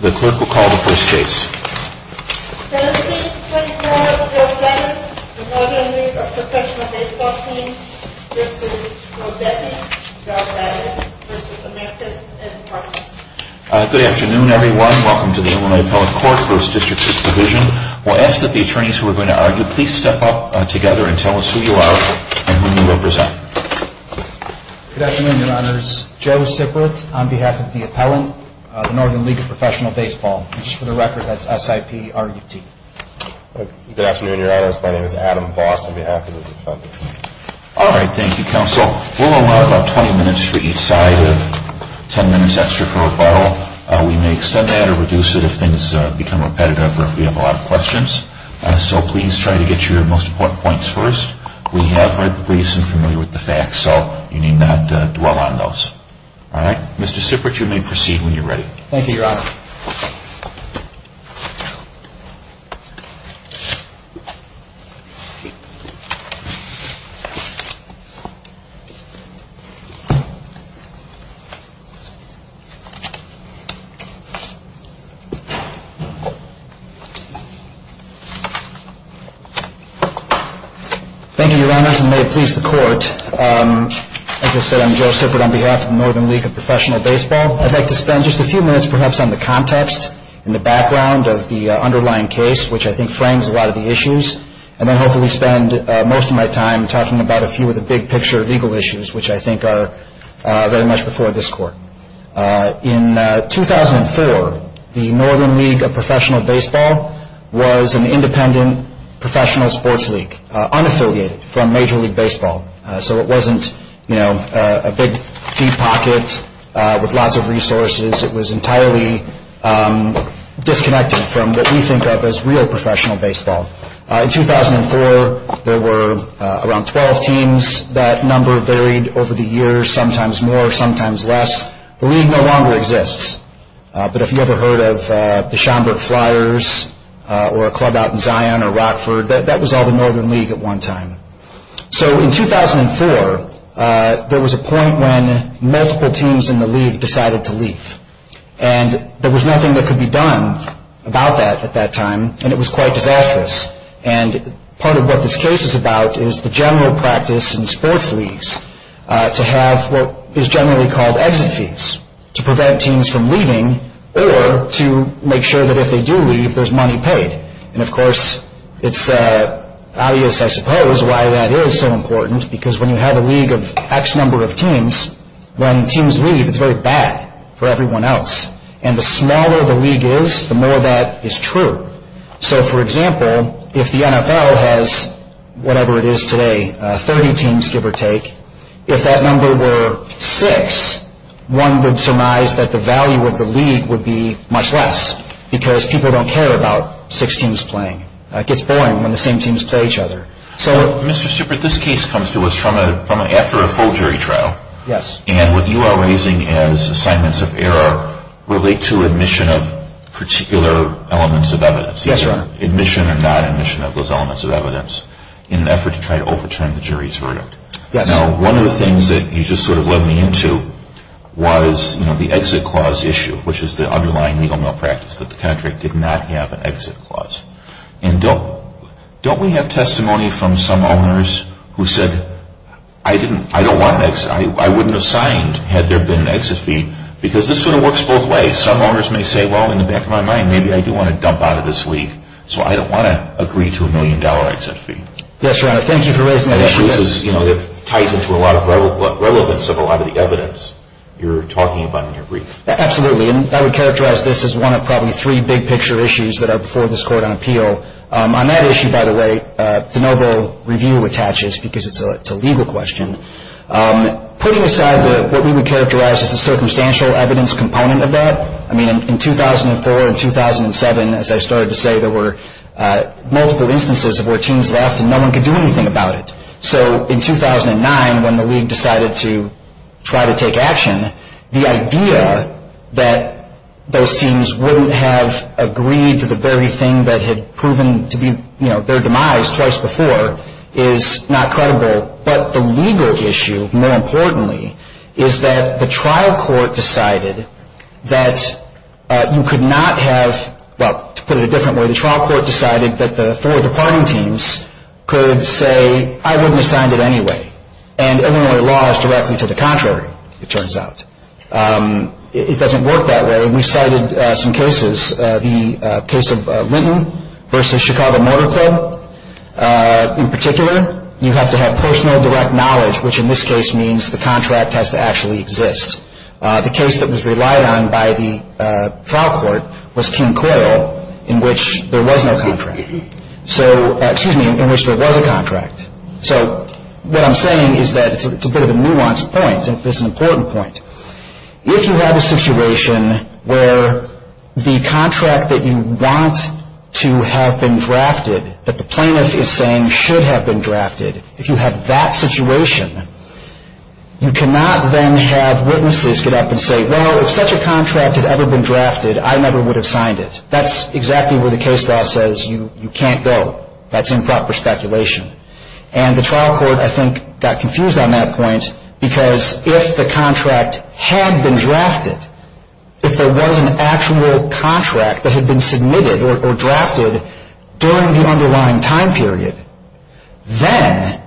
Good afternoon everyone. Welcome to the Illinois Appellate Court, First District's Provision. We'll ask that the attorneys who are going to argue, please step up together and tell us who you are and who you represent. Good afternoon, Your Honors. Joe Sippert, on behalf of the appellant, the Northern League of Professional Baseball Teams, and just for the record, that's S-I-P-R-U-T. Good afternoon, Your Honors. My name is Adam Voss, on behalf of the defendants. All right, thank you, counsel. We'll allow about 20 minutes for each side of 10 minutes extra for rebuttal. We may extend that or reduce it if things become repetitive or if we have a lot of questions. So please try to get your most important points first. We have heard the police and are familiar with the facts, so you need not dwell on those. All right, Mr. Sippert, you may proceed when you're ready. Thank you, Your Honor. Thank you, Your Honors, and may it please the court. As I said, I'm Joe Sippert on behalf of the Northern League of Professional Baseball. I'd like to spend just a few minutes perhaps on the context and the background of the underlying case, which I think frames a lot of the issues, and then hopefully spend most of my time talking about a few of the big picture legal issues, which I think are very much before this court. In 2004, the Northern League of Professional Baseball was an independent professional sports league, unaffiliated from Major League Baseball. So it wasn't a big, deep pocket with lots of resources. It was entirely disconnected from what we think of as real professional baseball. In 2004, there were around 12 teams. That number varied over the years, sometimes more, sometimes less. The league no longer exists. But if you ever heard of the Schomburg Flyers or a club out in Zion or Rockford, that was all the Northern League at one time. So in 2004, there was a point when multiple teams in the league decided to leave. And there was nothing that could be done about that at that time, and it was quite disastrous. And part of what this case is about is the general practice in sports leagues to have what is generally called exit fees to prevent teams from leaving or to make sure that if they do leave, there's money paid. And, of course, it's obvious, I suppose, why that is so important, because when you have a league of X number of teams, when teams leave, it's very bad for everyone else. And the smaller the league is, the more that is true. So, for example, if the NFL has, whatever it is today, 30 teams, give or take, if that number were six, one would surmise that the value of the league would be much less because people don't care about six teams playing. It gets boring when the same teams play each other. So... Mr. Stupert, this case comes to us from after a full jury trial. Yes. And what you are raising as assignments of error relate to admission of particular elements of evidence. Yes, sir. Admission or non-admission of those elements of evidence in an effort to try to overturn the jury's verdict. Yes. Now, one of the things that you just sort of led me into was the exit clause issue, which is the underlying legal malpractice, that the contract did not have an exit clause. And don't we have testimony from some owners who said, I wouldn't have signed had there been an exit fee, because this sort of works both ways. Some owners may say, well, in the back of my mind, maybe I do want to dump out of this league, so I don't want to agree to a million dollar exit fee. Yes, Your Honor. Thank you for raising that issue. It ties into a lot of relevance of a lot of the evidence you're talking about in your brief. Absolutely. And I would characterize this as one of probably three big picture issues that are before this court on appeal. On that issue, by the way, de novo review attaches, because it's a legal question. Putting aside what we would characterize as the circumstantial evidence component of that, I mean, in 2004 and 2007, as I started to say, there were multiple instances of where teams left and no one could do anything about it. So in 2009, when the league decided to try to take action, the idea that those teams wouldn't have agreed to the very thing that had proven to be their demise twice before is not credible. But the legal issue, more importantly, is that the trial court decided that you could not have, well, to put it a different way, the trial court decided that the four departing teams could say, I wouldn't have signed it anyway. And Illinois law is directly to the contrary, it turns out. It doesn't work that way. We cited some cases, the case of Linton versus Chicago Motor Club. In particular, you have to have personal direct knowledge, which in this case means the contract has to actually exist. The case that was relied on by the trial court was King Coyle, in which there was no contract. So, excuse me, in which there was a contract. So what I'm saying is that it's a bit of a nuanced point. It's an important point. If you have a situation where the contract that you want to have been drafted, that the plaintiff is saying should have been drafted, if you have that situation, you cannot then have witnesses get up and say, well, if such a contract had ever been drafted, I never would have signed it. That's exactly where the case law says you can't go. That's improper speculation. And the trial court, I think, got confused on that point because if the contract had been drafted, if there was an actual contract that had been submitted or drafted during the underlying time period, then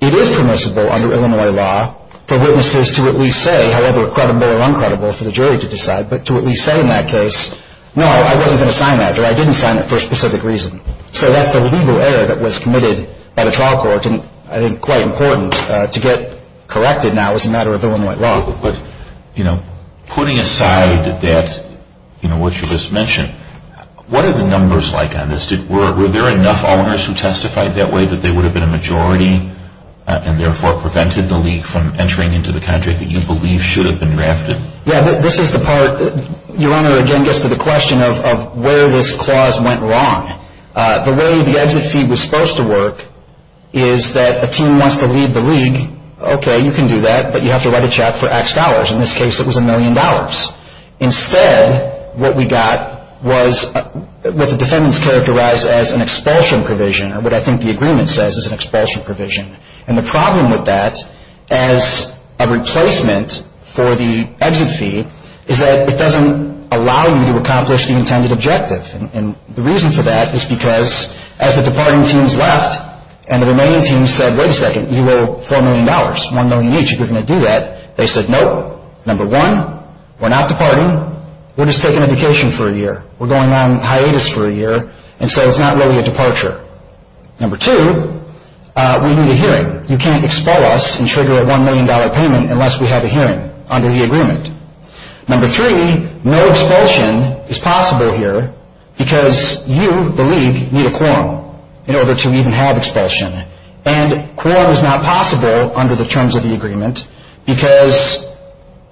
it is permissible under Illinois law for witnesses to at least say, however credible or uncredible for the jury to decide, but to at least say in that case, no, I wasn't going to sign that, or I didn't sign it for a specific reason. So that's the legal error that was committed by the trial court, and I think quite important to get corrected now as a matter of Illinois law. But, you know, putting aside that, you know, what you just mentioned, what are the numbers like on this? Were there enough owners who testified that way that they would have been a majority and therefore prevented the league from entering into the contract that you believe should have been drafted? Yeah, this is the part. Your Honor, again, gets to the question of where this clause went wrong. The way the exit fee was supposed to work is that a team wants to lead the league. Okay, you can do that, but you have to write a check for X dollars. In this case, it was a million dollars. Instead, what we got was what the defendants characterized as an expulsion provision, or what I think the agreement says is an expulsion provision. And the problem with that, as a replacement for the exit fee, is that it doesn't allow you to accomplish the intended objective. And the reason for that is because as the departing teams left and the remaining teams said, wait a second, you owe $4 million, $1 million each if you're going to do that, they said, nope, number one, we're not departing, we're just taking a vacation for a year. We're going on hiatus for a year, and so it's not really a departure. Number two, we need a hearing. You can't expel us and trigger a $1 million payment unless we have a hearing under the agreement. Number three, no expulsion is possible here because you, the league, need a quorum in order to even have expulsion. And quorum is not possible under the terms of the agreement because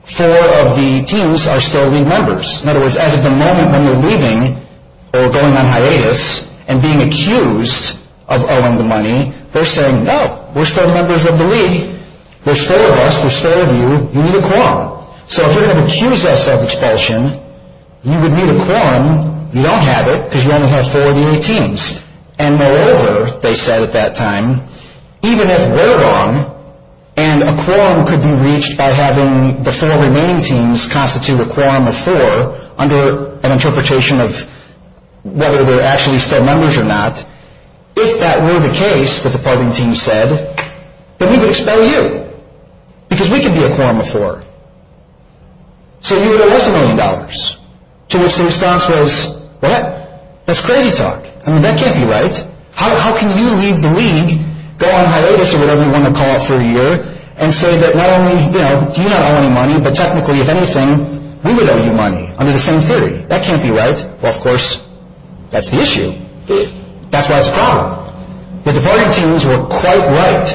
four of the teams are still league members. In other words, as of the moment when you're leaving or going on hiatus and being accused of owing the money, they're saying, no, we're still members of the league. There's four of us, there's four of you, you need a quorum. So if you're going to accuse us of expulsion, you would need a quorum. You don't have it because you only have four of the eight teams. And moreover, they said at that time, even if we're wrong, and a quorum could be reached by having the four remaining teams constitute a quorum of four under an interpretation of whether they're actually still members or not, if that were the case, the departing team said, then we would expel you because we could be a quorum of four. So you owe us a million dollars. To which the response was, what? That's crazy talk. I mean, that can't be right. How can you leave the league, go on hiatus or whatever you want to call it for a year, and say that not only do you not owe any money, but technically, if anything, we would owe you money under the same theory. That can't be right. Well, of course, that's the issue. That's why it's a problem. The departing teams were quite right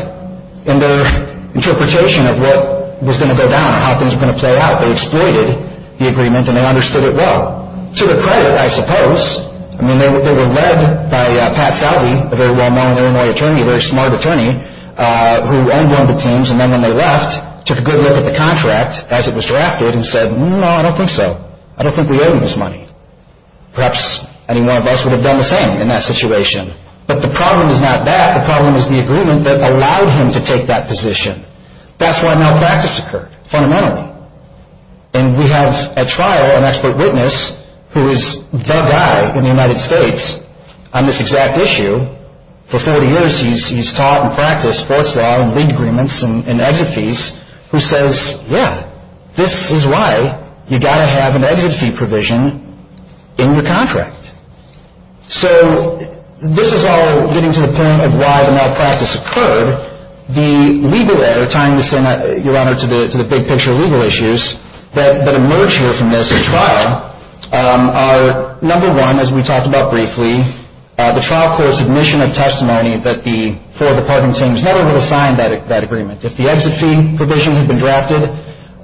in their interpretation of what was going to go down and how things were going to play out. They exploited the agreement, and they understood it well. To their credit, I suppose. I mean, they were led by Pat Salvey, a very well-known Illinois attorney, a very smart attorney, who owned one of the teams, and then when they left, took a good look at the contract as it was drafted and said, no, I don't think so. I don't think we owe him this money. Perhaps any one of us would have done the same in that situation. But the problem is not that. The problem is the agreement that allowed him to take that position. That's why malpractice occurred, fundamentally. And we have a trial, an expert witness, who is the guy in the United States on this exact issue. For 40 years, he's taught and practiced sports law and league agreements and exit fees, who says, yeah, this is why you've got to have an exit fee provision in your contract. So this is all getting to the point of why the malpractice occurred. The legal error, tying this, Your Honor, to the big picture legal issues that emerge here from this trial, are, number one, as we talked about briefly, the trial court's admission of testimony that the four department teams never would have signed that agreement. If the exit fee provision had been drafted,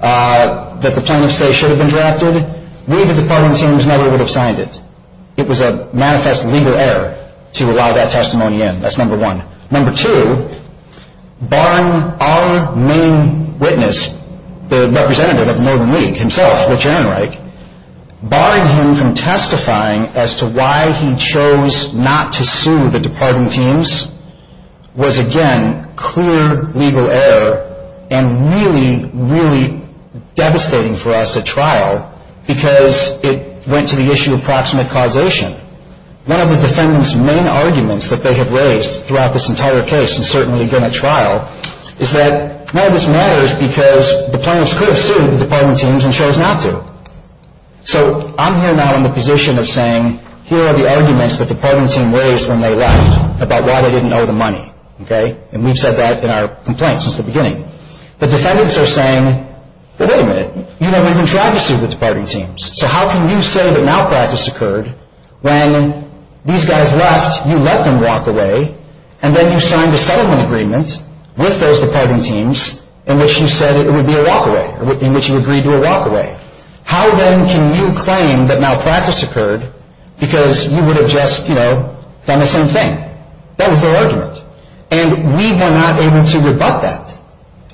that the plaintiffs say should have been drafted, we, the department teams, never would have signed it. It was a manifest legal error to allow that testimony in. That's number one. Number two, barring our main witness, the representative of Northern League himself, Rich Ehrenreich, barring him from testifying as to why he chose not to sue the department teams was, again, clear legal error and really, really devastating for us at trial because it went to the issue of proximate causation. One of the defendants' main arguments that they have raised throughout this entire case, and certainly during the trial, is that none of this matters because the plaintiffs could have sued the department teams and chose not to. So I'm here now in the position of saying here are the arguments the department team raised when they left about why they didn't owe the money. Okay? And we've said that in our complaint since the beginning. The defendants are saying, well, wait a minute, you never even tried to sue the department teams, so how can you say that malpractice occurred when these guys left, you let them walk away, and then you signed a settlement agreement with those department teams in which you said it would be a walkaway, in which you agreed to a walkaway. How, then, can you claim that malpractice occurred because you would have just, you know, done the same thing? That was their argument. And we were not able to rebut that.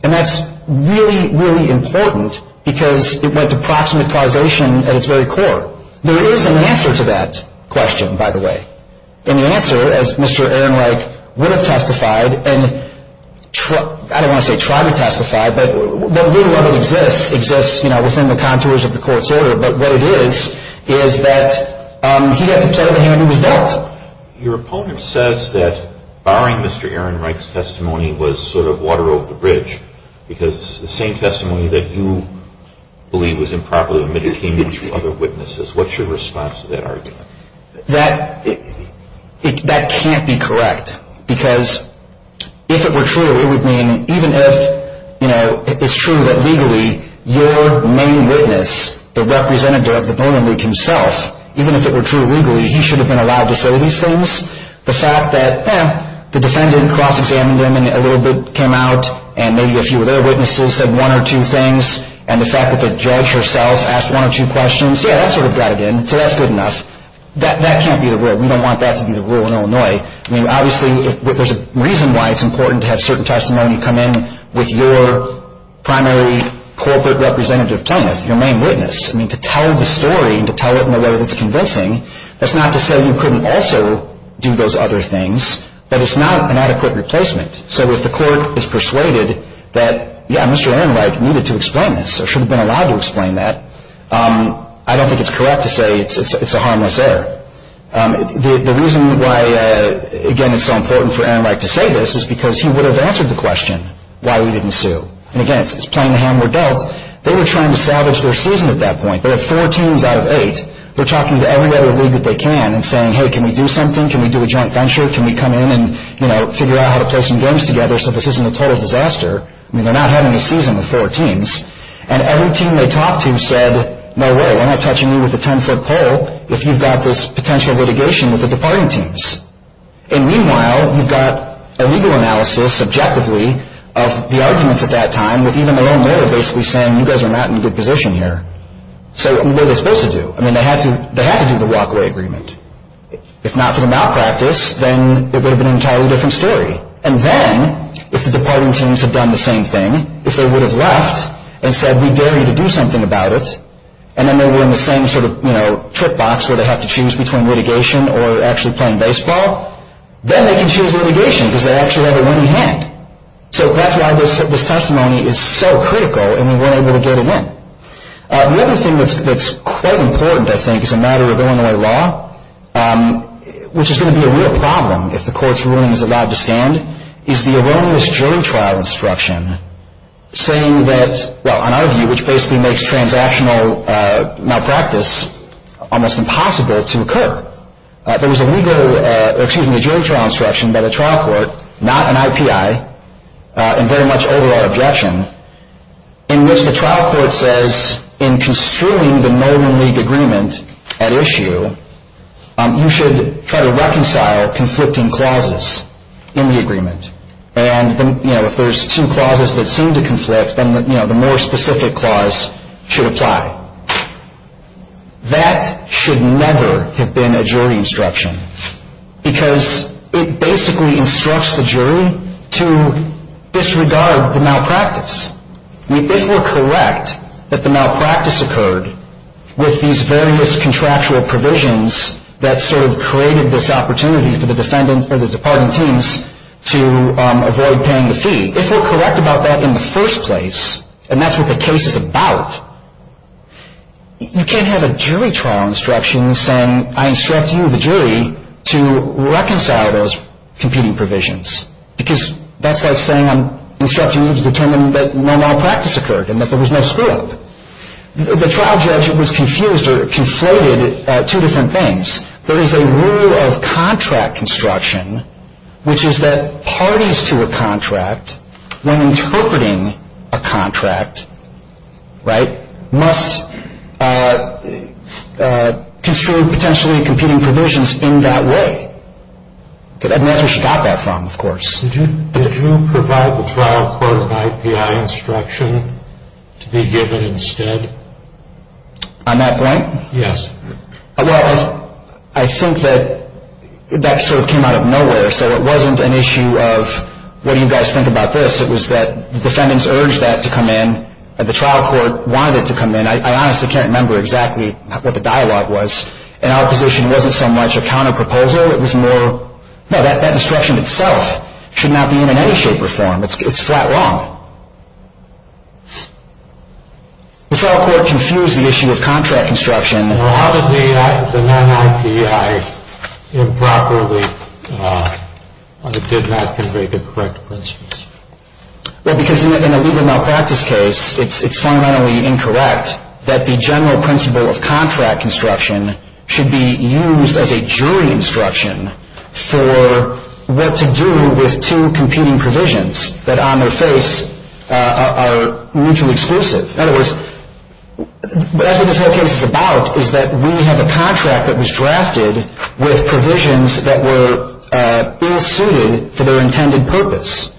And that's really, really important because it went to proximate causation at its very core. There is an answer to that question, by the way. And the answer, as Mr. Ehrenreich would have testified, and I don't want to say tried to testify, but would rather exist, exists, you know, within the contours of the court's order. But what it is is that he got to play the hand that was dealt. Well, your opponent says that barring Mr. Ehrenreich's testimony was sort of water over the bridge because the same testimony that you believe was improperly omitted came in through other witnesses. What's your response to that argument? That can't be correct because if it were true, it would mean even if, you know, it's true that legally your main witness, the representative of the Voting League himself, even if it were true legally, he should have been allowed to say these things. The fact that the defendant cross-examined him and a little bit came out and maybe a few other witnesses said one or two things, and the fact that the judge herself asked one or two questions, yeah, that sort of got it in. So that's good enough. That can't be the rule. We don't want that to be the rule in Illinois. I mean, obviously there's a reason why it's important to have certain testimony come in with your primary corporate representative plaintiff, your main witness. I mean, to tell the story and to tell it in a way that's convincing, that's not to say you couldn't also do those other things, but it's not an adequate replacement. So if the court is persuaded that, yeah, Mr. Ehrenreich needed to explain this or should have been allowed to explain that, I don't think it's correct to say it's a harmless error. The reason why, again, it's so important for Ehrenreich to say this is because he would have answered the question why we didn't sue. And, again, it's playing the hand we're dealt. They were trying to salvage their season at that point. They have four teams out of eight. They're talking to every other league that they can and saying, hey, can we do something? Can we do a joint venture? Can we come in and figure out how to play some games together so this isn't a total disaster? I mean, they're not having a season with four teams. And every team they talked to said, no way, you're not touching me with a ten-foot pole if you've got this potential litigation with the departing teams. And, meanwhile, you've got a legal analysis, subjectively, of the arguments at that time with even the loan lawyer basically saying, you guys are not in a good position here. So what were they supposed to do? I mean, they had to do the walk-away agreement. If not for the malpractice, then it would have been an entirely different story. And then, if the departing teams had done the same thing, if they would have left and said, we dare you to do something about it, and then they were in the same sort of, you know, trick box where they have to choose between litigation or actually playing baseball, then they can choose litigation because they actually have a winning hand. So that's why this testimony is so critical, and they weren't able to get it in. The other thing that's quite important, I think, as a matter of Illinois law, which is going to be a real problem if the court's ruling is allowed to stand, is the erroneous jury trial instruction saying that, well, in our view, which basically makes transactional malpractice almost impossible to occur. There was a legal, or excuse me, jury trial instruction by the trial court, not an IPI, in very much overall objection, in which the trial court says, in construing the Northern League agreement at issue, you should try to reconcile conflicting clauses in the agreement. And, you know, if there's two clauses that seem to conflict, then, you know, the more specific clause should apply. That should never have been a jury instruction because it basically instructs the jury to disregard the malpractice. If we're correct that the malpractice occurred with these various contractual provisions that sort of created this opportunity for the departing teams to avoid paying the fee, if we're correct about that in the first place, and that's what the case is about, you can't have a jury trial instruction saying, I instruct you, the jury, to reconcile those competing provisions because that's like saying I'm instructing you to determine that no malpractice occurred and that there was no screw-up. The trial judge was confused or conflated at two different things. There is a rule of contract construction, which is that parties to a contract, when interpreting a contract, right, must construe potentially competing provisions in that way. And that's where she got that from, of course. Did you provide the trial court an IPI instruction to be given instead? On that point? Yes. Well, I think that that sort of came out of nowhere. So it wasn't an issue of what do you guys think about this? It was that the defendants urged that to come in and the trial court wanted it to come in. I honestly can't remember exactly what the dialogue was. In our position, it wasn't so much a counterproposal. It was more, no, that instruction itself should not be in any shape or form. It's flat wrong. The trial court confused the issue of contract construction. Well, how did the non-IPI improperly or did not convey the correct principles? Well, because in a legal malpractice case, it's fundamentally incorrect that the general principle of contract construction should be used as a jury instruction for what to do with two competing provisions that on their face are mutually exclusive. In other words, that's what this whole case is about, is that we have a contract that was drafted with provisions that were ill-suited for their intended purpose.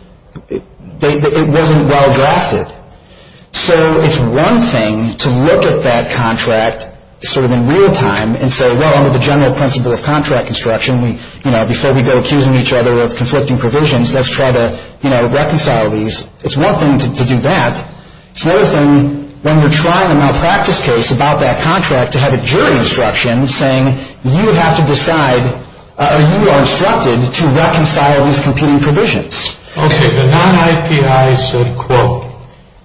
It wasn't well drafted. So it's one thing to look at that contract sort of in real time and say, well, under the general principle of contract construction, before we go accusing each other of conflicting provisions, let's try to reconcile these. It's one thing to do that. It's another thing when you're trying a malpractice case about that contract to have a jury instruction saying you have to decide or you are instructed to reconcile these competing provisions. Okay, the non-IPI said, quote,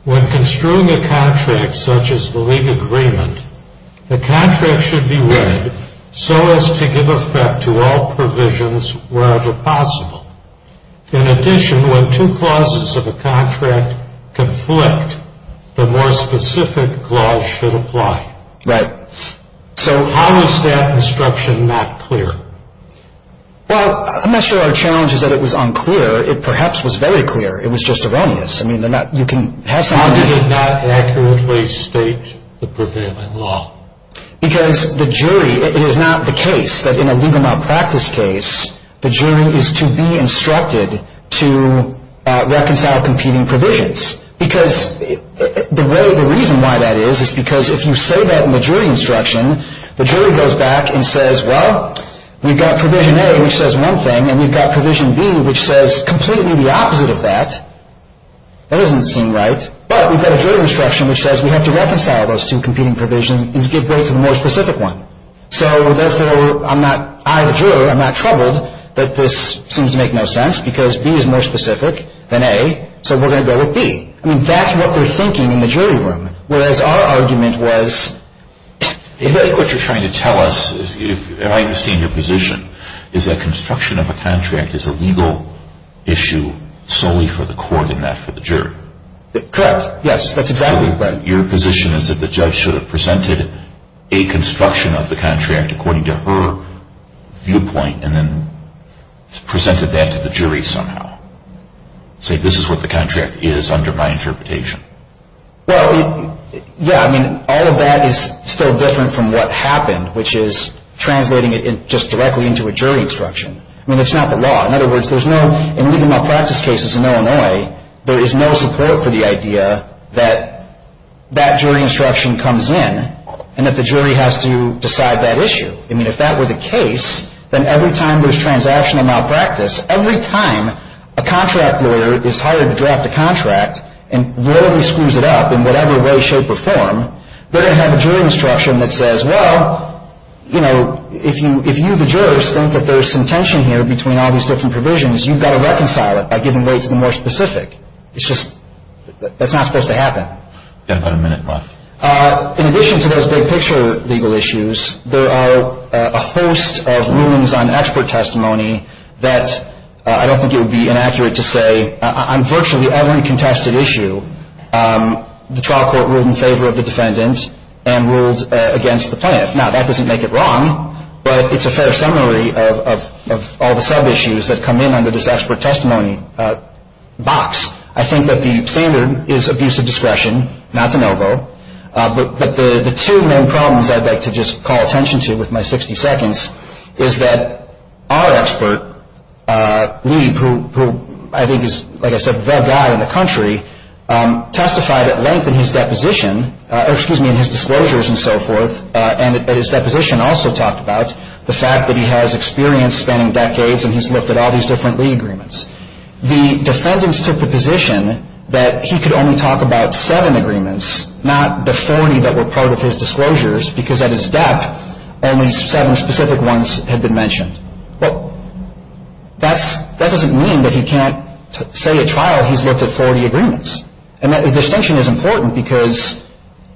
When construing a contract such as the legal agreement, the contract should be read so as to give effect to all provisions wherever possible. In addition, when two clauses of a contract conflict, the more specific clause should apply. Right. So how is that instruction not clear? Well, I'm not sure our challenge is that it was unclear. It perhaps was very clear. It was just erroneous. How did it not accurately state the prevailing law? Because the jury, it is not the case that in a legal malpractice case, the jury is to be instructed to reconcile competing provisions. Because the reason why that is is because if you say that in the jury instruction, the jury goes back and says, well, we've got provision A, which says one thing, and we've got provision B, which says completely the opposite of that, that doesn't seem right. But we've got a jury instruction which says we have to reconcile those two competing provisions and to give way to the more specific one. So therefore, I'm not, I, the juror, I'm not troubled that this seems to make no sense because B is more specific than A, so we're going to go with B. I mean, that's what they're thinking in the jury room, whereas our argument was... I think what you're trying to tell us, if I understand your position, is that construction of a contract is a legal issue solely for the court and not for the jury. Correct. Yes, that's exactly right. Your position is that the judge should have presented a construction of the contract according to her viewpoint and then presented that to the jury somehow. Say, this is what the contract is under my interpretation. Well, yeah, I mean, all of that is still different from what happened, which is translating it just directly into a jury instruction. I mean, it's not the law. In other words, there's no, in legal malpractice cases in Illinois, there is no support for the idea that that jury instruction comes in and that the jury has to decide that issue. I mean, if that were the case, then every time there's transactional malpractice, every time a contract lawyer is hired to draft a contract and literally screws it up in whatever way, shape, or form, they're going to have a jury instruction that says, well, you know, if you, the jurors, think that there's some tension here between all these different provisions, you've got to reconcile it by giving way to the more specific. It's just, that's not supposed to happen. You've got about a minute left. In addition to those big picture legal issues, there are a host of rulings on expert testimony that I don't think it would be inaccurate to say, on virtually every contested issue, the trial court ruled in favor of the defendant and ruled against the plaintiff. Now, that doesn't make it wrong, but it's a fair summary of all the sub-issues that come in under this expert testimony box. I think that the standard is abuse of discretion, not de novo. But the two main problems I'd like to just call attention to with my 60 seconds is that our expert, Lee, who I think is, like I said, the guy in the country, testified at length in his deposition, or excuse me, in his disclosures and so forth, and at his deposition also talked about the fact that he has experience spanning decades and he's looked at all these different Lee agreements. The defendants took the position that he could only talk about seven agreements, not the 40 that were part of his disclosures, because at his dep, only seven specific ones had been mentioned. Well, that doesn't mean that he can't say at trial he's looked at 40 agreements. And that distinction is important because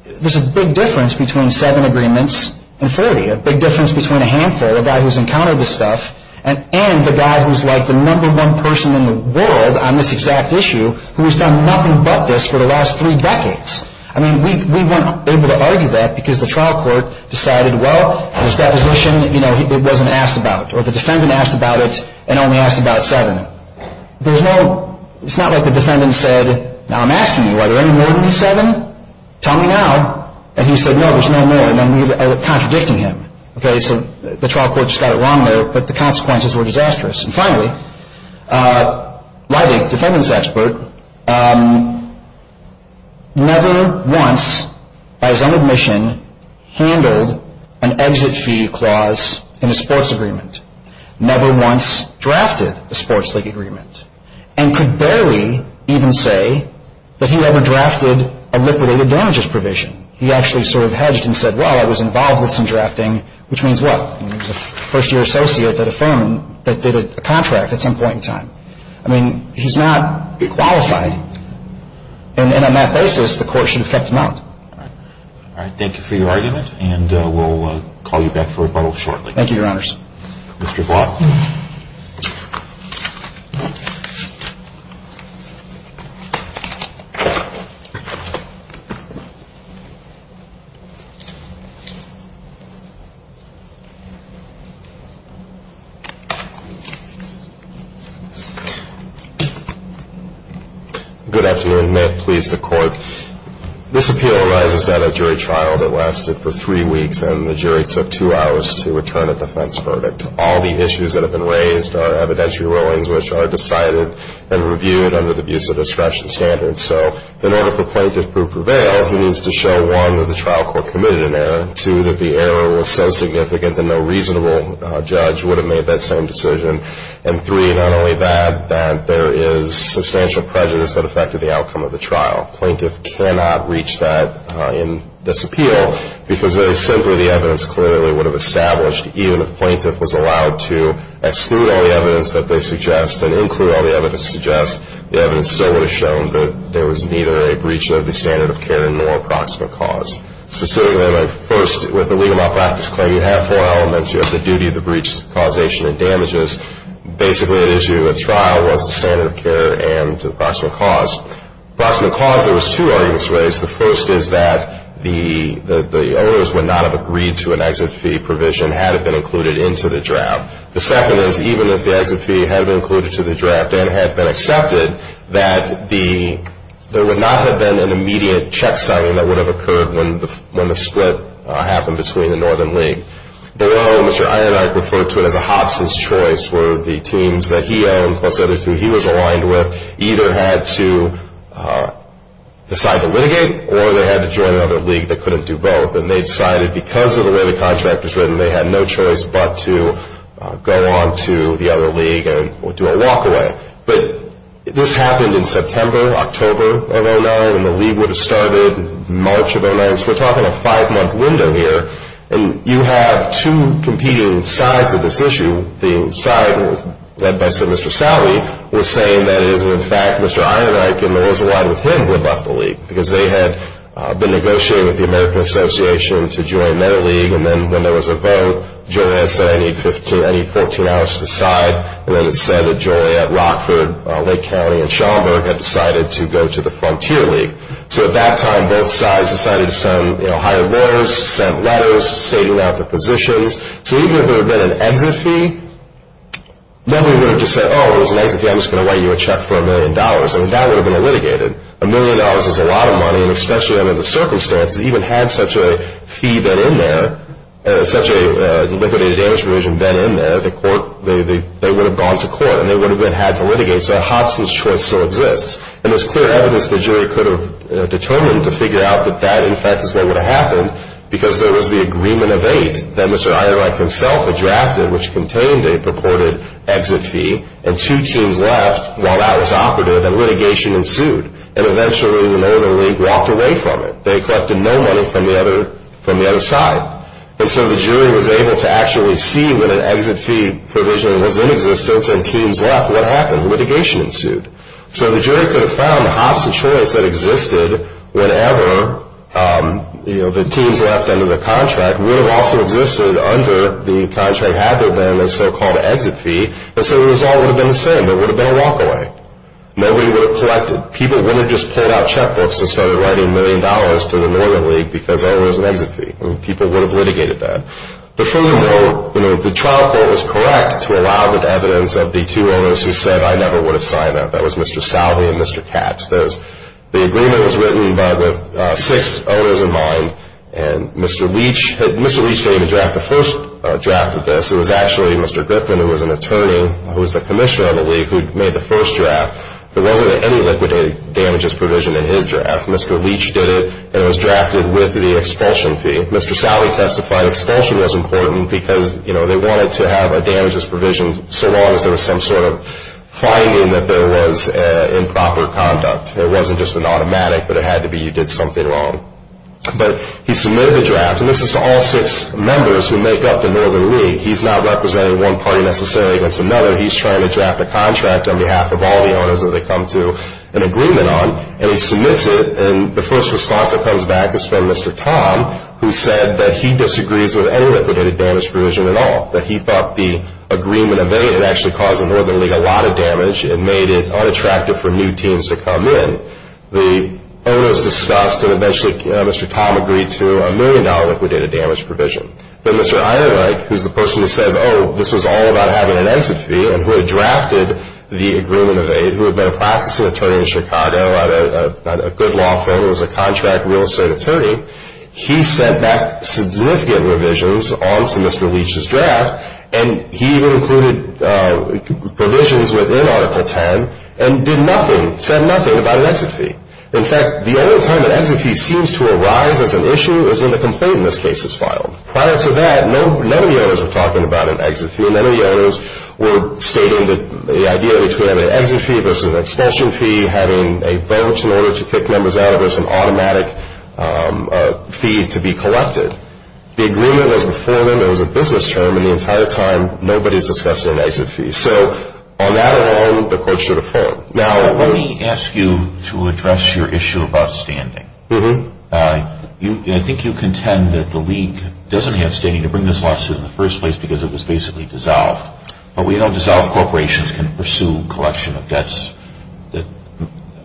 there's a big difference between seven agreements and 40, a big difference between a handful, the guy who's encountered this stuff, and the guy who's like the number one person in the world on this exact issue who has done nothing but this for the last three decades. I mean, we weren't able to argue that because the trial court decided, well, at his deposition, it wasn't asked about, or the defendant asked about it and only asked about seven. It's not like the defendant said, now I'm asking you, are there any more than these seven? Tell me now. And he said, no, there's no more, and then we were contradicting him. Okay, so the trial court just got it wrong there, but the consequences were disastrous. And finally, Lydig, defendant's expert, never once, by his own admission, handled an exit fee clause in a sports agreement, never once drafted a sports league agreement, and could barely even say that he ever drafted a liquidated damages provision. He actually sort of hedged and said, well, I was involved with some drafting, which means what? He was a first-year associate at a firm that did a contract at some point in time. I mean, he's not qualifying. And on that basis, the court should have kept him out. All right. Thank you for your argument, and we'll call you back for rebuttal shortly. Thank you, Your Honors. Mr. Vaughn. Good afternoon. May it please the Court. This appeal arises at a jury trial that lasted for three weeks, and the jury took two hours to return a defense verdict. All the issues that have been raised are evidentiary rulings, which are decided and reviewed under the abuse of discretion standards. So in order for plaintiff to prevail, he needs to show, one, that the trial court committed an error, a reasonable judge would have made that same decision, and, three, not only that, that there is substantial prejudice that affected the outcome of the trial. Plaintiff cannot reach that in this appeal, because very simply the evidence clearly would have established, even if plaintiff was allowed to exclude all the evidence that they suggest and include all the evidence that suggests, the evidence still would have shown that there was neither a breach of the standard of care nor a proximate cause. Specifically, first, with a legal malpractice claim, you have four elements. You have the duty, the breach, causation, and damages. Basically, the issue at trial was the standard of care and the proximate cause. Proximate cause, there was two arguments raised. The first is that the owners would not have agreed to an exit fee provision had it been included into the draft. The second is, even if the exit fee had been included to the draft and had been accepted, that there would not have been an immediate check signing that would have occurred when the split happened between the Northern League. Below, Mr. Einhardt referred to it as a Hobson's choice, where the teams that he owned, plus other teams he was aligned with, either had to decide to litigate or they had to join another league that couldn't do both. And they decided, because of the way the contract was written, they had no choice but to go on to the other league and do a walk-away. But this happened in September, October of 2009, when the league would have started, March of 2009. So we're talking a five-month window here. And you have two competing sides of this issue. The side led by, say, Mr. Salley was saying that it is in fact Mr. Einhardt and there was a line with him who had left the league, because they had been negotiating with the American Association to join their league. And then when there was a vote, Joliet said, I need 14 hours to decide. And then it said that Joliet, Rockford, Lake County, and Schaumburg had decided to go to the Frontier League. So at that time, both sides decided to hire lawyers, send letters, saving out the positions. So even if there had been an exit fee, nobody would have just said, oh, there's an exit fee, I'm just going to write you a check for a million dollars. I mean, that would have been litigated. A million dollars is a lot of money, and especially under the circumstances, even had such a fee been in there, such a liquidated damage provision been in there, they would have gone to court and they would have been had to litigate. So Hobson's choice still exists. And there's clear evidence that Joliet could have determined to figure out that that, in fact, is what would have happened, because there was the agreement of eight that Mr. Einhardt himself had drafted, which contained a purported exit fee, and two teams left while that was operative, and litigation ensued. And eventually, the Northern League walked away from it. They collected no money from the other side. And so the jury was able to actually see that an exit fee provision was in existence and teams left. What happened? Litigation ensued. So the jury could have found Hobson's choice that existed whenever the teams left under the contract would have also existed under the contract had there been a so-called exit fee, and so the result would have been the same. There would have been a walkaway. Nobody would have collected. People wouldn't have just pulled out checkbooks and started writing million dollars to the Northern League because there was an exit fee. I mean, people would have litigated that. But furthermore, the trial court was correct to allow the evidence of the two owners who said, I never would have signed that. That was Mr. Salvey and Mr. Katz. The agreement was written, but with six owners in mind, and Mr. Leach, Mr. Leach didn't even draft the first draft of this. It was actually Mr. Griffin, who was an attorney, who was the commissioner of the League, who made the first draft. There wasn't any liquidated damages provision in his draft. Mr. Leach did it, and it was drafted with the expulsion fee. Mr. Salvey testified expulsion was important because, you know, they wanted to have a damages provision so long as there was some sort of finding that there was improper conduct. It wasn't just an automatic, but it had to be you did something wrong. But he submitted a draft, and this is to all six members who make up the Northern League. He's not representing one party necessarily against another. He's trying to draft a contract on behalf of all the owners that they come to an agreement on, and he submits it, and the first response that comes back is from Mr. Tom, who said that he disagrees with any liquidated damage provision at all, that he thought the agreement of aid had actually caused the Northern League a lot of damage and made it unattractive for new teams to come in. The owner was disgusted, and eventually Mr. Tom agreed to a million-dollar liquidated damage provision. Then Mr. Eierreich, who's the person who says, oh, this was all about having an NSF fee, and who had drafted the agreement of aid, who had been a practicing attorney in Chicago, had a good law firm, was a contract real estate attorney. He sent back significant revisions onto Mr. Leach's draft, and he included provisions within Article 10 and did nothing, said nothing about an exit fee. In fact, the only time an exit fee seems to arise as an issue is when the complaint in this case is filed. Prior to that, none of the owners were talking about an exit fee. None of the owners were stating that the idea was to have an exit fee versus an expulsion fee, having a vote in order to kick members out of this, an automatic fee to be collected. The agreement was before them. It was a business term, and the entire time, nobody's discussed an exit fee. So on that alone, the court should have fallen. Now, let me ask you to address your issue about standing. I think you contend that the League doesn't have standing to bring this lawsuit in the first place because it was basically dissolved. But we know dissolved corporations can pursue collection of debts that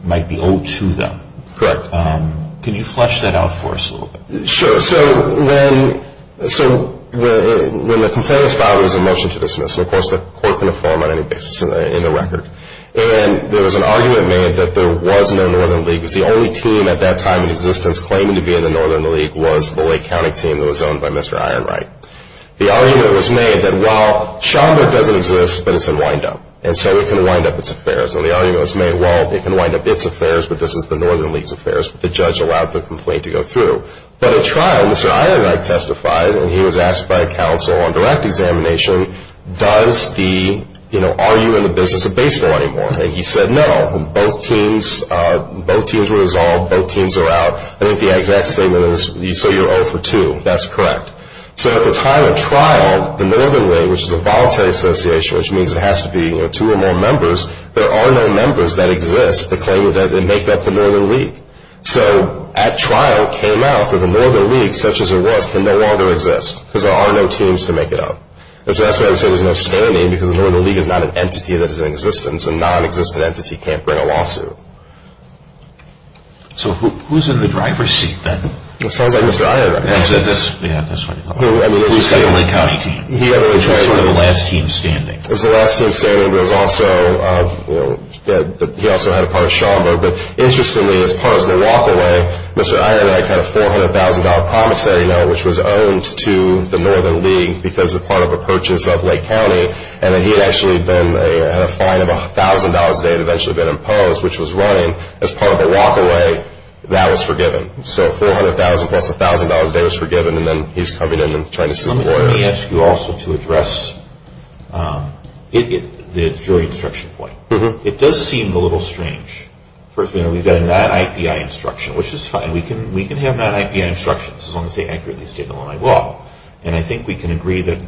might be owed to them. Correct. Can you flesh that out for us a little bit? Sure. So when the complaint was filed, there was a motion to dismiss, and, of course, the court could inform on any basis in the record. And there was an argument made that there was no Northern League because the only team at that time in existence claiming to be in the Northern League was the Lake County team that was owned by Mr. Ironright. The argument was made that while Chamba doesn't exist, but it's in windup, and so it can wind up its affairs. And the argument was made, well, it can wind up its affairs, but this is the Northern League's affairs, but the judge allowed the complaint to go through. But at trial, Mr. Ironright testified, and he was asked by a counsel on direct examination, does the, you know, are you in the business of baseball anymore? And he said no. Both teams were dissolved. Both teams are out. I think the exact statement is, so you're 0 for 2. That's correct. So at the time of trial, the Northern League, which is a voluntary association, which means it has to be, you know, two or more members, there are no members that exist that claim that they make up the Northern League. So at trial it came out that the Northern League, such as it was, can no longer exist because there are no teams to make it up. And so that's why they say there's no standing because the Northern League is not an entity that is in existence. A nonexistent entity can't bring a lawsuit. So who's in the driver's seat then? It sounds like Mr. Ironright. Yeah, that's right. He was on the Lake County team. He was the last team standing. He was the last team standing, but he also had a part of Schaumburg. But interestingly, as part of the walk-away, Mr. Ironright had a $400,000 promissory note, which was owned to the Northern League because of part of a purchase of Lake County. And he had actually been at a fine of $1,000 that had eventually been imposed, which was running as part of the walk-away that was forgiven. So $400,000 plus $1,000 that was forgiven, and then he's coming in and trying to sue the lawyers. Let me ask you also to address the jury instruction point. It does seem a little strange. First of all, we've got a non-IPI instruction, which is fine. We can have non-IPI instructions as long as they accurately state in Illinois law. And I think we can agree that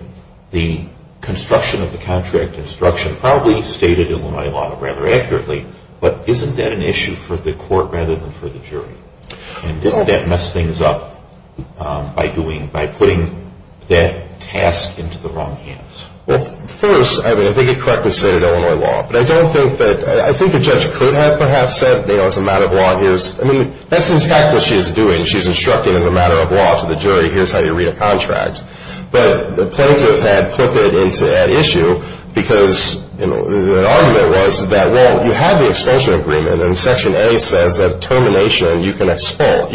the construction of the contract instruction probably stated in Illinois law rather accurately, but isn't that an issue for the court rather than for the jury? And didn't that mess things up by putting that task into the wrong hands? Well, first, I mean, I think it correctly stated Illinois law. But I don't think that – I think the judge could have perhaps said, you know, it's a matter of law, here's – I mean, that's in fact what she's doing. She's instructing as a matter of law to the jury, here's how you read a contract. But the plaintiff had put it into that issue because, you know, the argument was that, well, you have the expulsion agreement, and Section A says that termination, you can expel.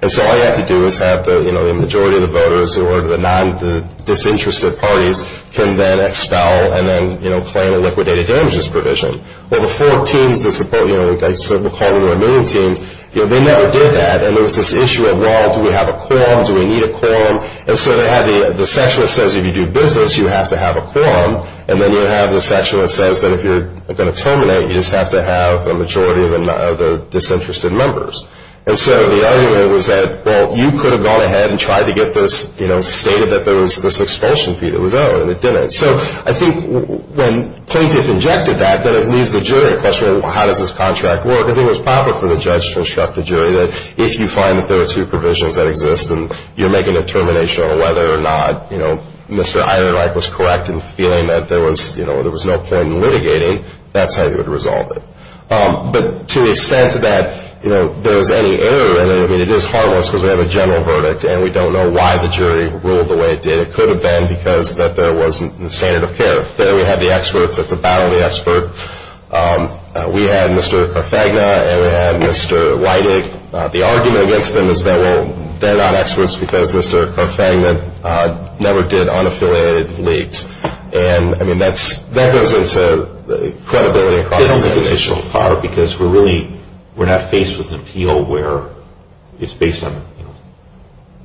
And so all you have to do is have the majority of the voters or the non-disinterested parties can then expel and then claim a liquidated damages provision. Well, the four teams that support, you know, we'll call them the remaining teams, they never did that, and there was this issue of, well, do we have a quorum? Do we need a quorum? And so they had the section that says if you do business, you have to have a quorum, and then you have the section that says that if you're going to terminate, you just have to have a majority of the disinterested members. And so the argument was that, well, you could have gone ahead and tried to get this, you know, stated that there was this expulsion fee that was owed, and it didn't. So I think when plaintiff injected that, then it leaves the jury a question of, well, how does this contract work? I think it was proper for the judge to instruct the jury that if you find that there are two provisions that exist and you're making a determination on whether or not, you know, Mr. Eiderreich was correct in feeling that there was, you know, there was no point in litigating, that's how you would resolve it. But to the extent that, you know, there was any error in it, I mean, it is harmless because we have a general verdict, and we don't know why the jury ruled the way it did. It could have been because that there wasn't the standard of care. Then we had the experts. It's a battle of the expert. We had Mr. Carfagna, and we had Mr. Weidig. The argument against them is that, well, they're not experts because Mr. Carfagna never did unaffiliated leads. And, I mean, that goes into credibility. It hasn't been judged so far because we're really, we're not faced with an appeal where it's based on, you know,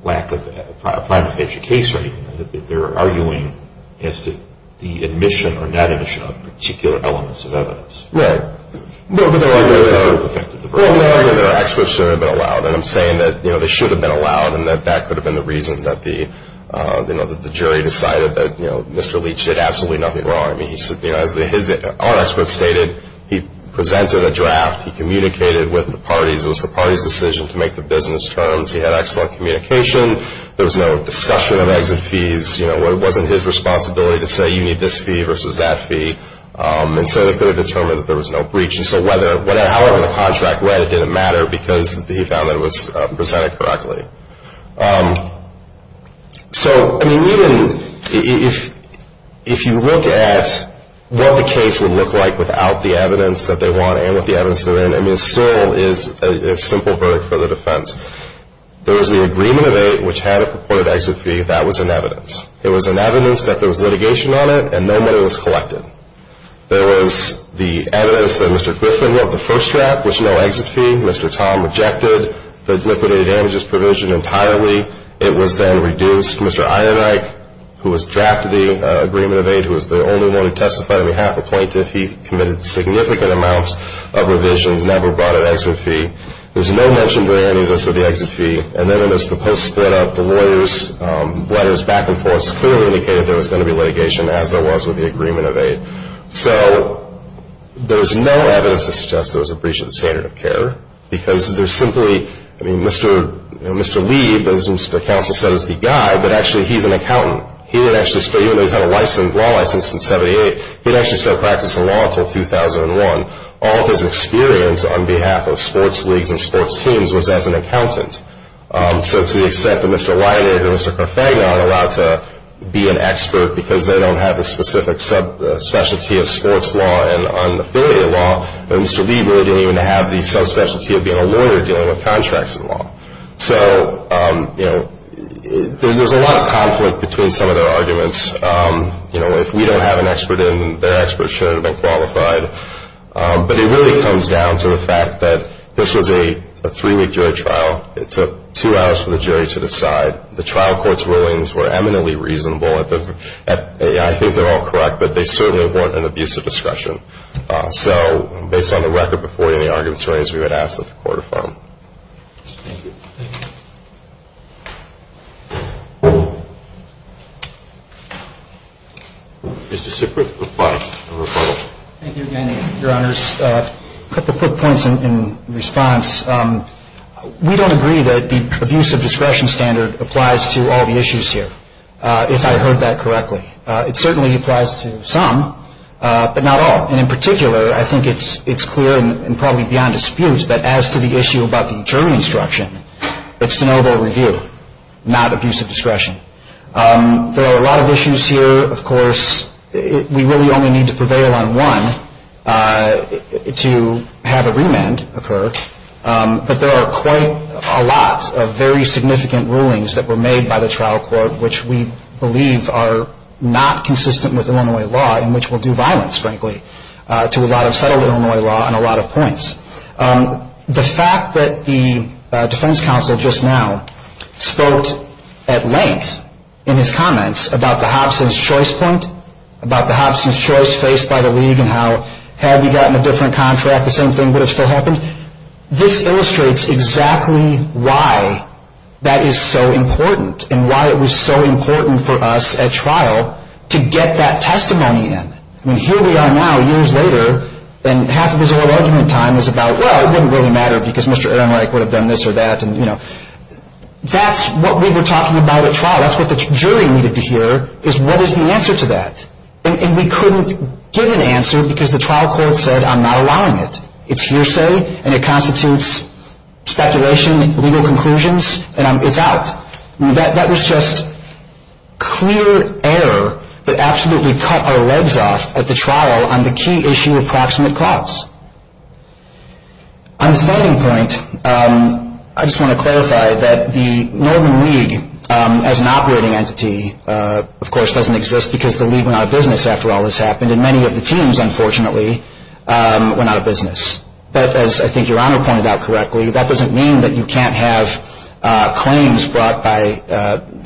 lack of a prima facie case or anything. They're arguing as to the admission or not admission of particular elements of evidence. Right. But they're arguing that experts shouldn't have been allowed. And I'm saying that, you know, they should have been allowed and that that could have been the reason that the jury decided that, you know, Mr. Leach did absolutely nothing wrong. I mean, as our experts stated, he presented a draft. He communicated with the parties. It was the party's decision to make the business terms. He had excellent communication. There was no discussion of exit fees. You know, it wasn't his responsibility to say, you need this fee versus that fee. And so they could have determined that there was no breach. And so however the contract read, it didn't matter because he found that it was presented correctly. So, I mean, even if you look at what the case would look like without the evidence that they want and with the evidence they're in, I mean, it still is a simple verdict for the defense. There was the agreement of eight which had a purported exit fee. That was in evidence. It was in evidence that there was litigation on it and no money was collected. There was the evidence that Mr. Griffin wrote the first draft which had no exit fee. Mr. Tom rejected the liquidated damages provision entirely. It was then reduced. Mr. Einrike, who was drafted the agreement of eight, who was the only one who testified on behalf of the plaintiff, he committed significant amounts of revisions and never brought an exit fee. There was no mention during any of this of the exit fee. And then there's the post split up, the lawyers' letters back and forth clearly indicated there was going to be litigation as there was with the agreement of eight. So there's no evidence to suggest there was a breach of the standard of care because there's simply, I mean, Mr. Lee, as Mr. Counsel said, is the guy, but actually he's an accountant. He didn't actually start, even though he's had a law license since 78, he didn't actually start practicing law until 2001. All of his experience on behalf of sports leagues and sports teams was as an accountant. So to the extent that Mr. Weiner and Mr. Carfagna are allowed to be an expert because they don't have the specific sub-specialty of sports law and affiliate law, Mr. Lee really didn't even have the sub-specialty of being a lawyer dealing with contracts in law. So, you know, there's a lot of conflict between some of their arguments. You know, if we don't have an expert in, their expert shouldn't have been qualified. But it really comes down to the fact that this was a three-week jury trial. It took two hours for the jury to decide. The trial court's rulings were eminently reasonable. I think they're all correct, but they certainly weren't an abuse of discretion. So based on the record before any arguments were raised, we would ask that the court affirm. Thank you. Is this a quick reply or a follow-up? Thank you again, Your Honors. A couple of quick points in response. We don't agree that the abuse of discretion standard applies to all the issues here, if I heard that correctly. It certainly applies to some, but not all. And in particular, I think it's clear and probably beyond dispute that as to the issue about the jury instruction, it's to know their review, not abuse of discretion. There are a lot of issues here. Of course, we really only need to prevail on one to have a remand occur. But there are quite a lot of very significant rulings that were made by the trial court, which we believe are not consistent with Illinois law and which will do violence, frankly, to a lot of settled Illinois law and a lot of points. The fact that the defense counsel just now spoke at length in his comments about the Hobson's choice point, about the Hobson's choice faced by the league and how had we gotten a different contract, the same thing would have still happened. This illustrates exactly why that is so important and why it was so important for us at trial to get that testimony in. Here we are now, years later, and half of his oral argument time is about, well, it wouldn't really matter because Mr. Ehrenreich would have done this or that. That's what we were talking about at trial. That's what the jury needed to hear is what is the answer to that. And we couldn't give an answer because the trial court said, I'm not allowing it. It's hearsay and it constitutes speculation, legal conclusions, and it's out. That was just clear error that absolutely cut our legs off at the trial on the key issue of proximate cause. On the standing point, I just want to clarify that the Norman League, as an operating entity, of course doesn't exist because the league went out of business after all this happened, and many of the teams, unfortunately, went out of business. But as I think Your Honor pointed out correctly, that doesn't mean that you can't have claims brought by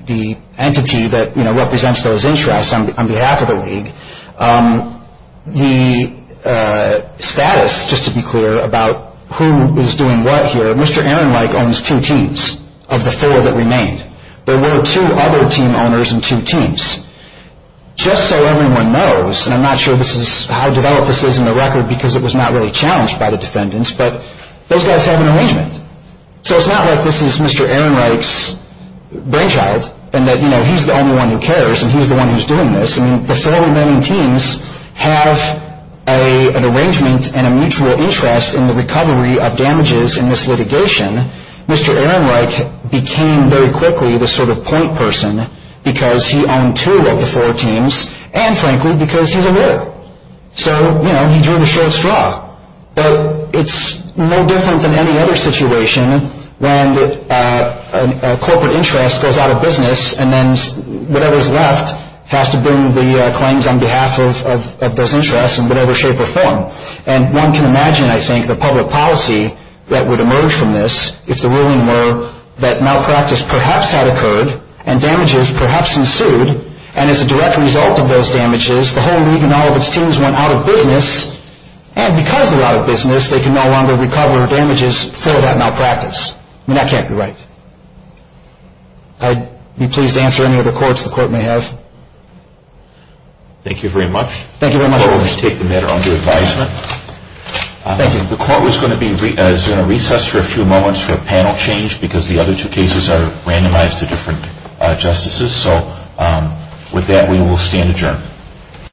the entity that represents those interests on behalf of the league. The status, just to be clear, about who is doing what here, Mr. Ehrenreich owns two teams of the four that remained. There were two other team owners and two teams. Just so everyone knows, and I'm not sure how developed this is in the record because it was not really challenged by the defendants, but those guys have an arrangement. So it's not like this is Mr. Ehrenreich's brainchild and that he's the only one who cares and he's the one who's doing this. The four remaining teams have an arrangement and a mutual interest in the recovery of damages in this litigation. Mr. Ehrenreich became very quickly the sort of point person because he owned two of the four teams and, frankly, because he's a lawyer. So, you know, he drew the short straw. But it's no different than any other situation when a corporate interest goes out of business and then whatever's left has to bring the claims on behalf of those interests in whatever shape or form. And one can imagine, I think, the public policy that would emerge from this if the ruling were that malpractice perhaps had occurred and damages perhaps ensued. And as a direct result of those damages, the whole league and all of its teams went out of business. And because they're out of business, they can no longer recover damages for that malpractice. I mean, that can't be right. I'd be pleased to answer any other quotes the court may have. Thank you very much. Thank you very much. The court will just take the matter under advisement. Thank you. The court is going to recess for a few moments for a panel change because the other two cases are randomized to different justices. So with that, we will stand adjourned.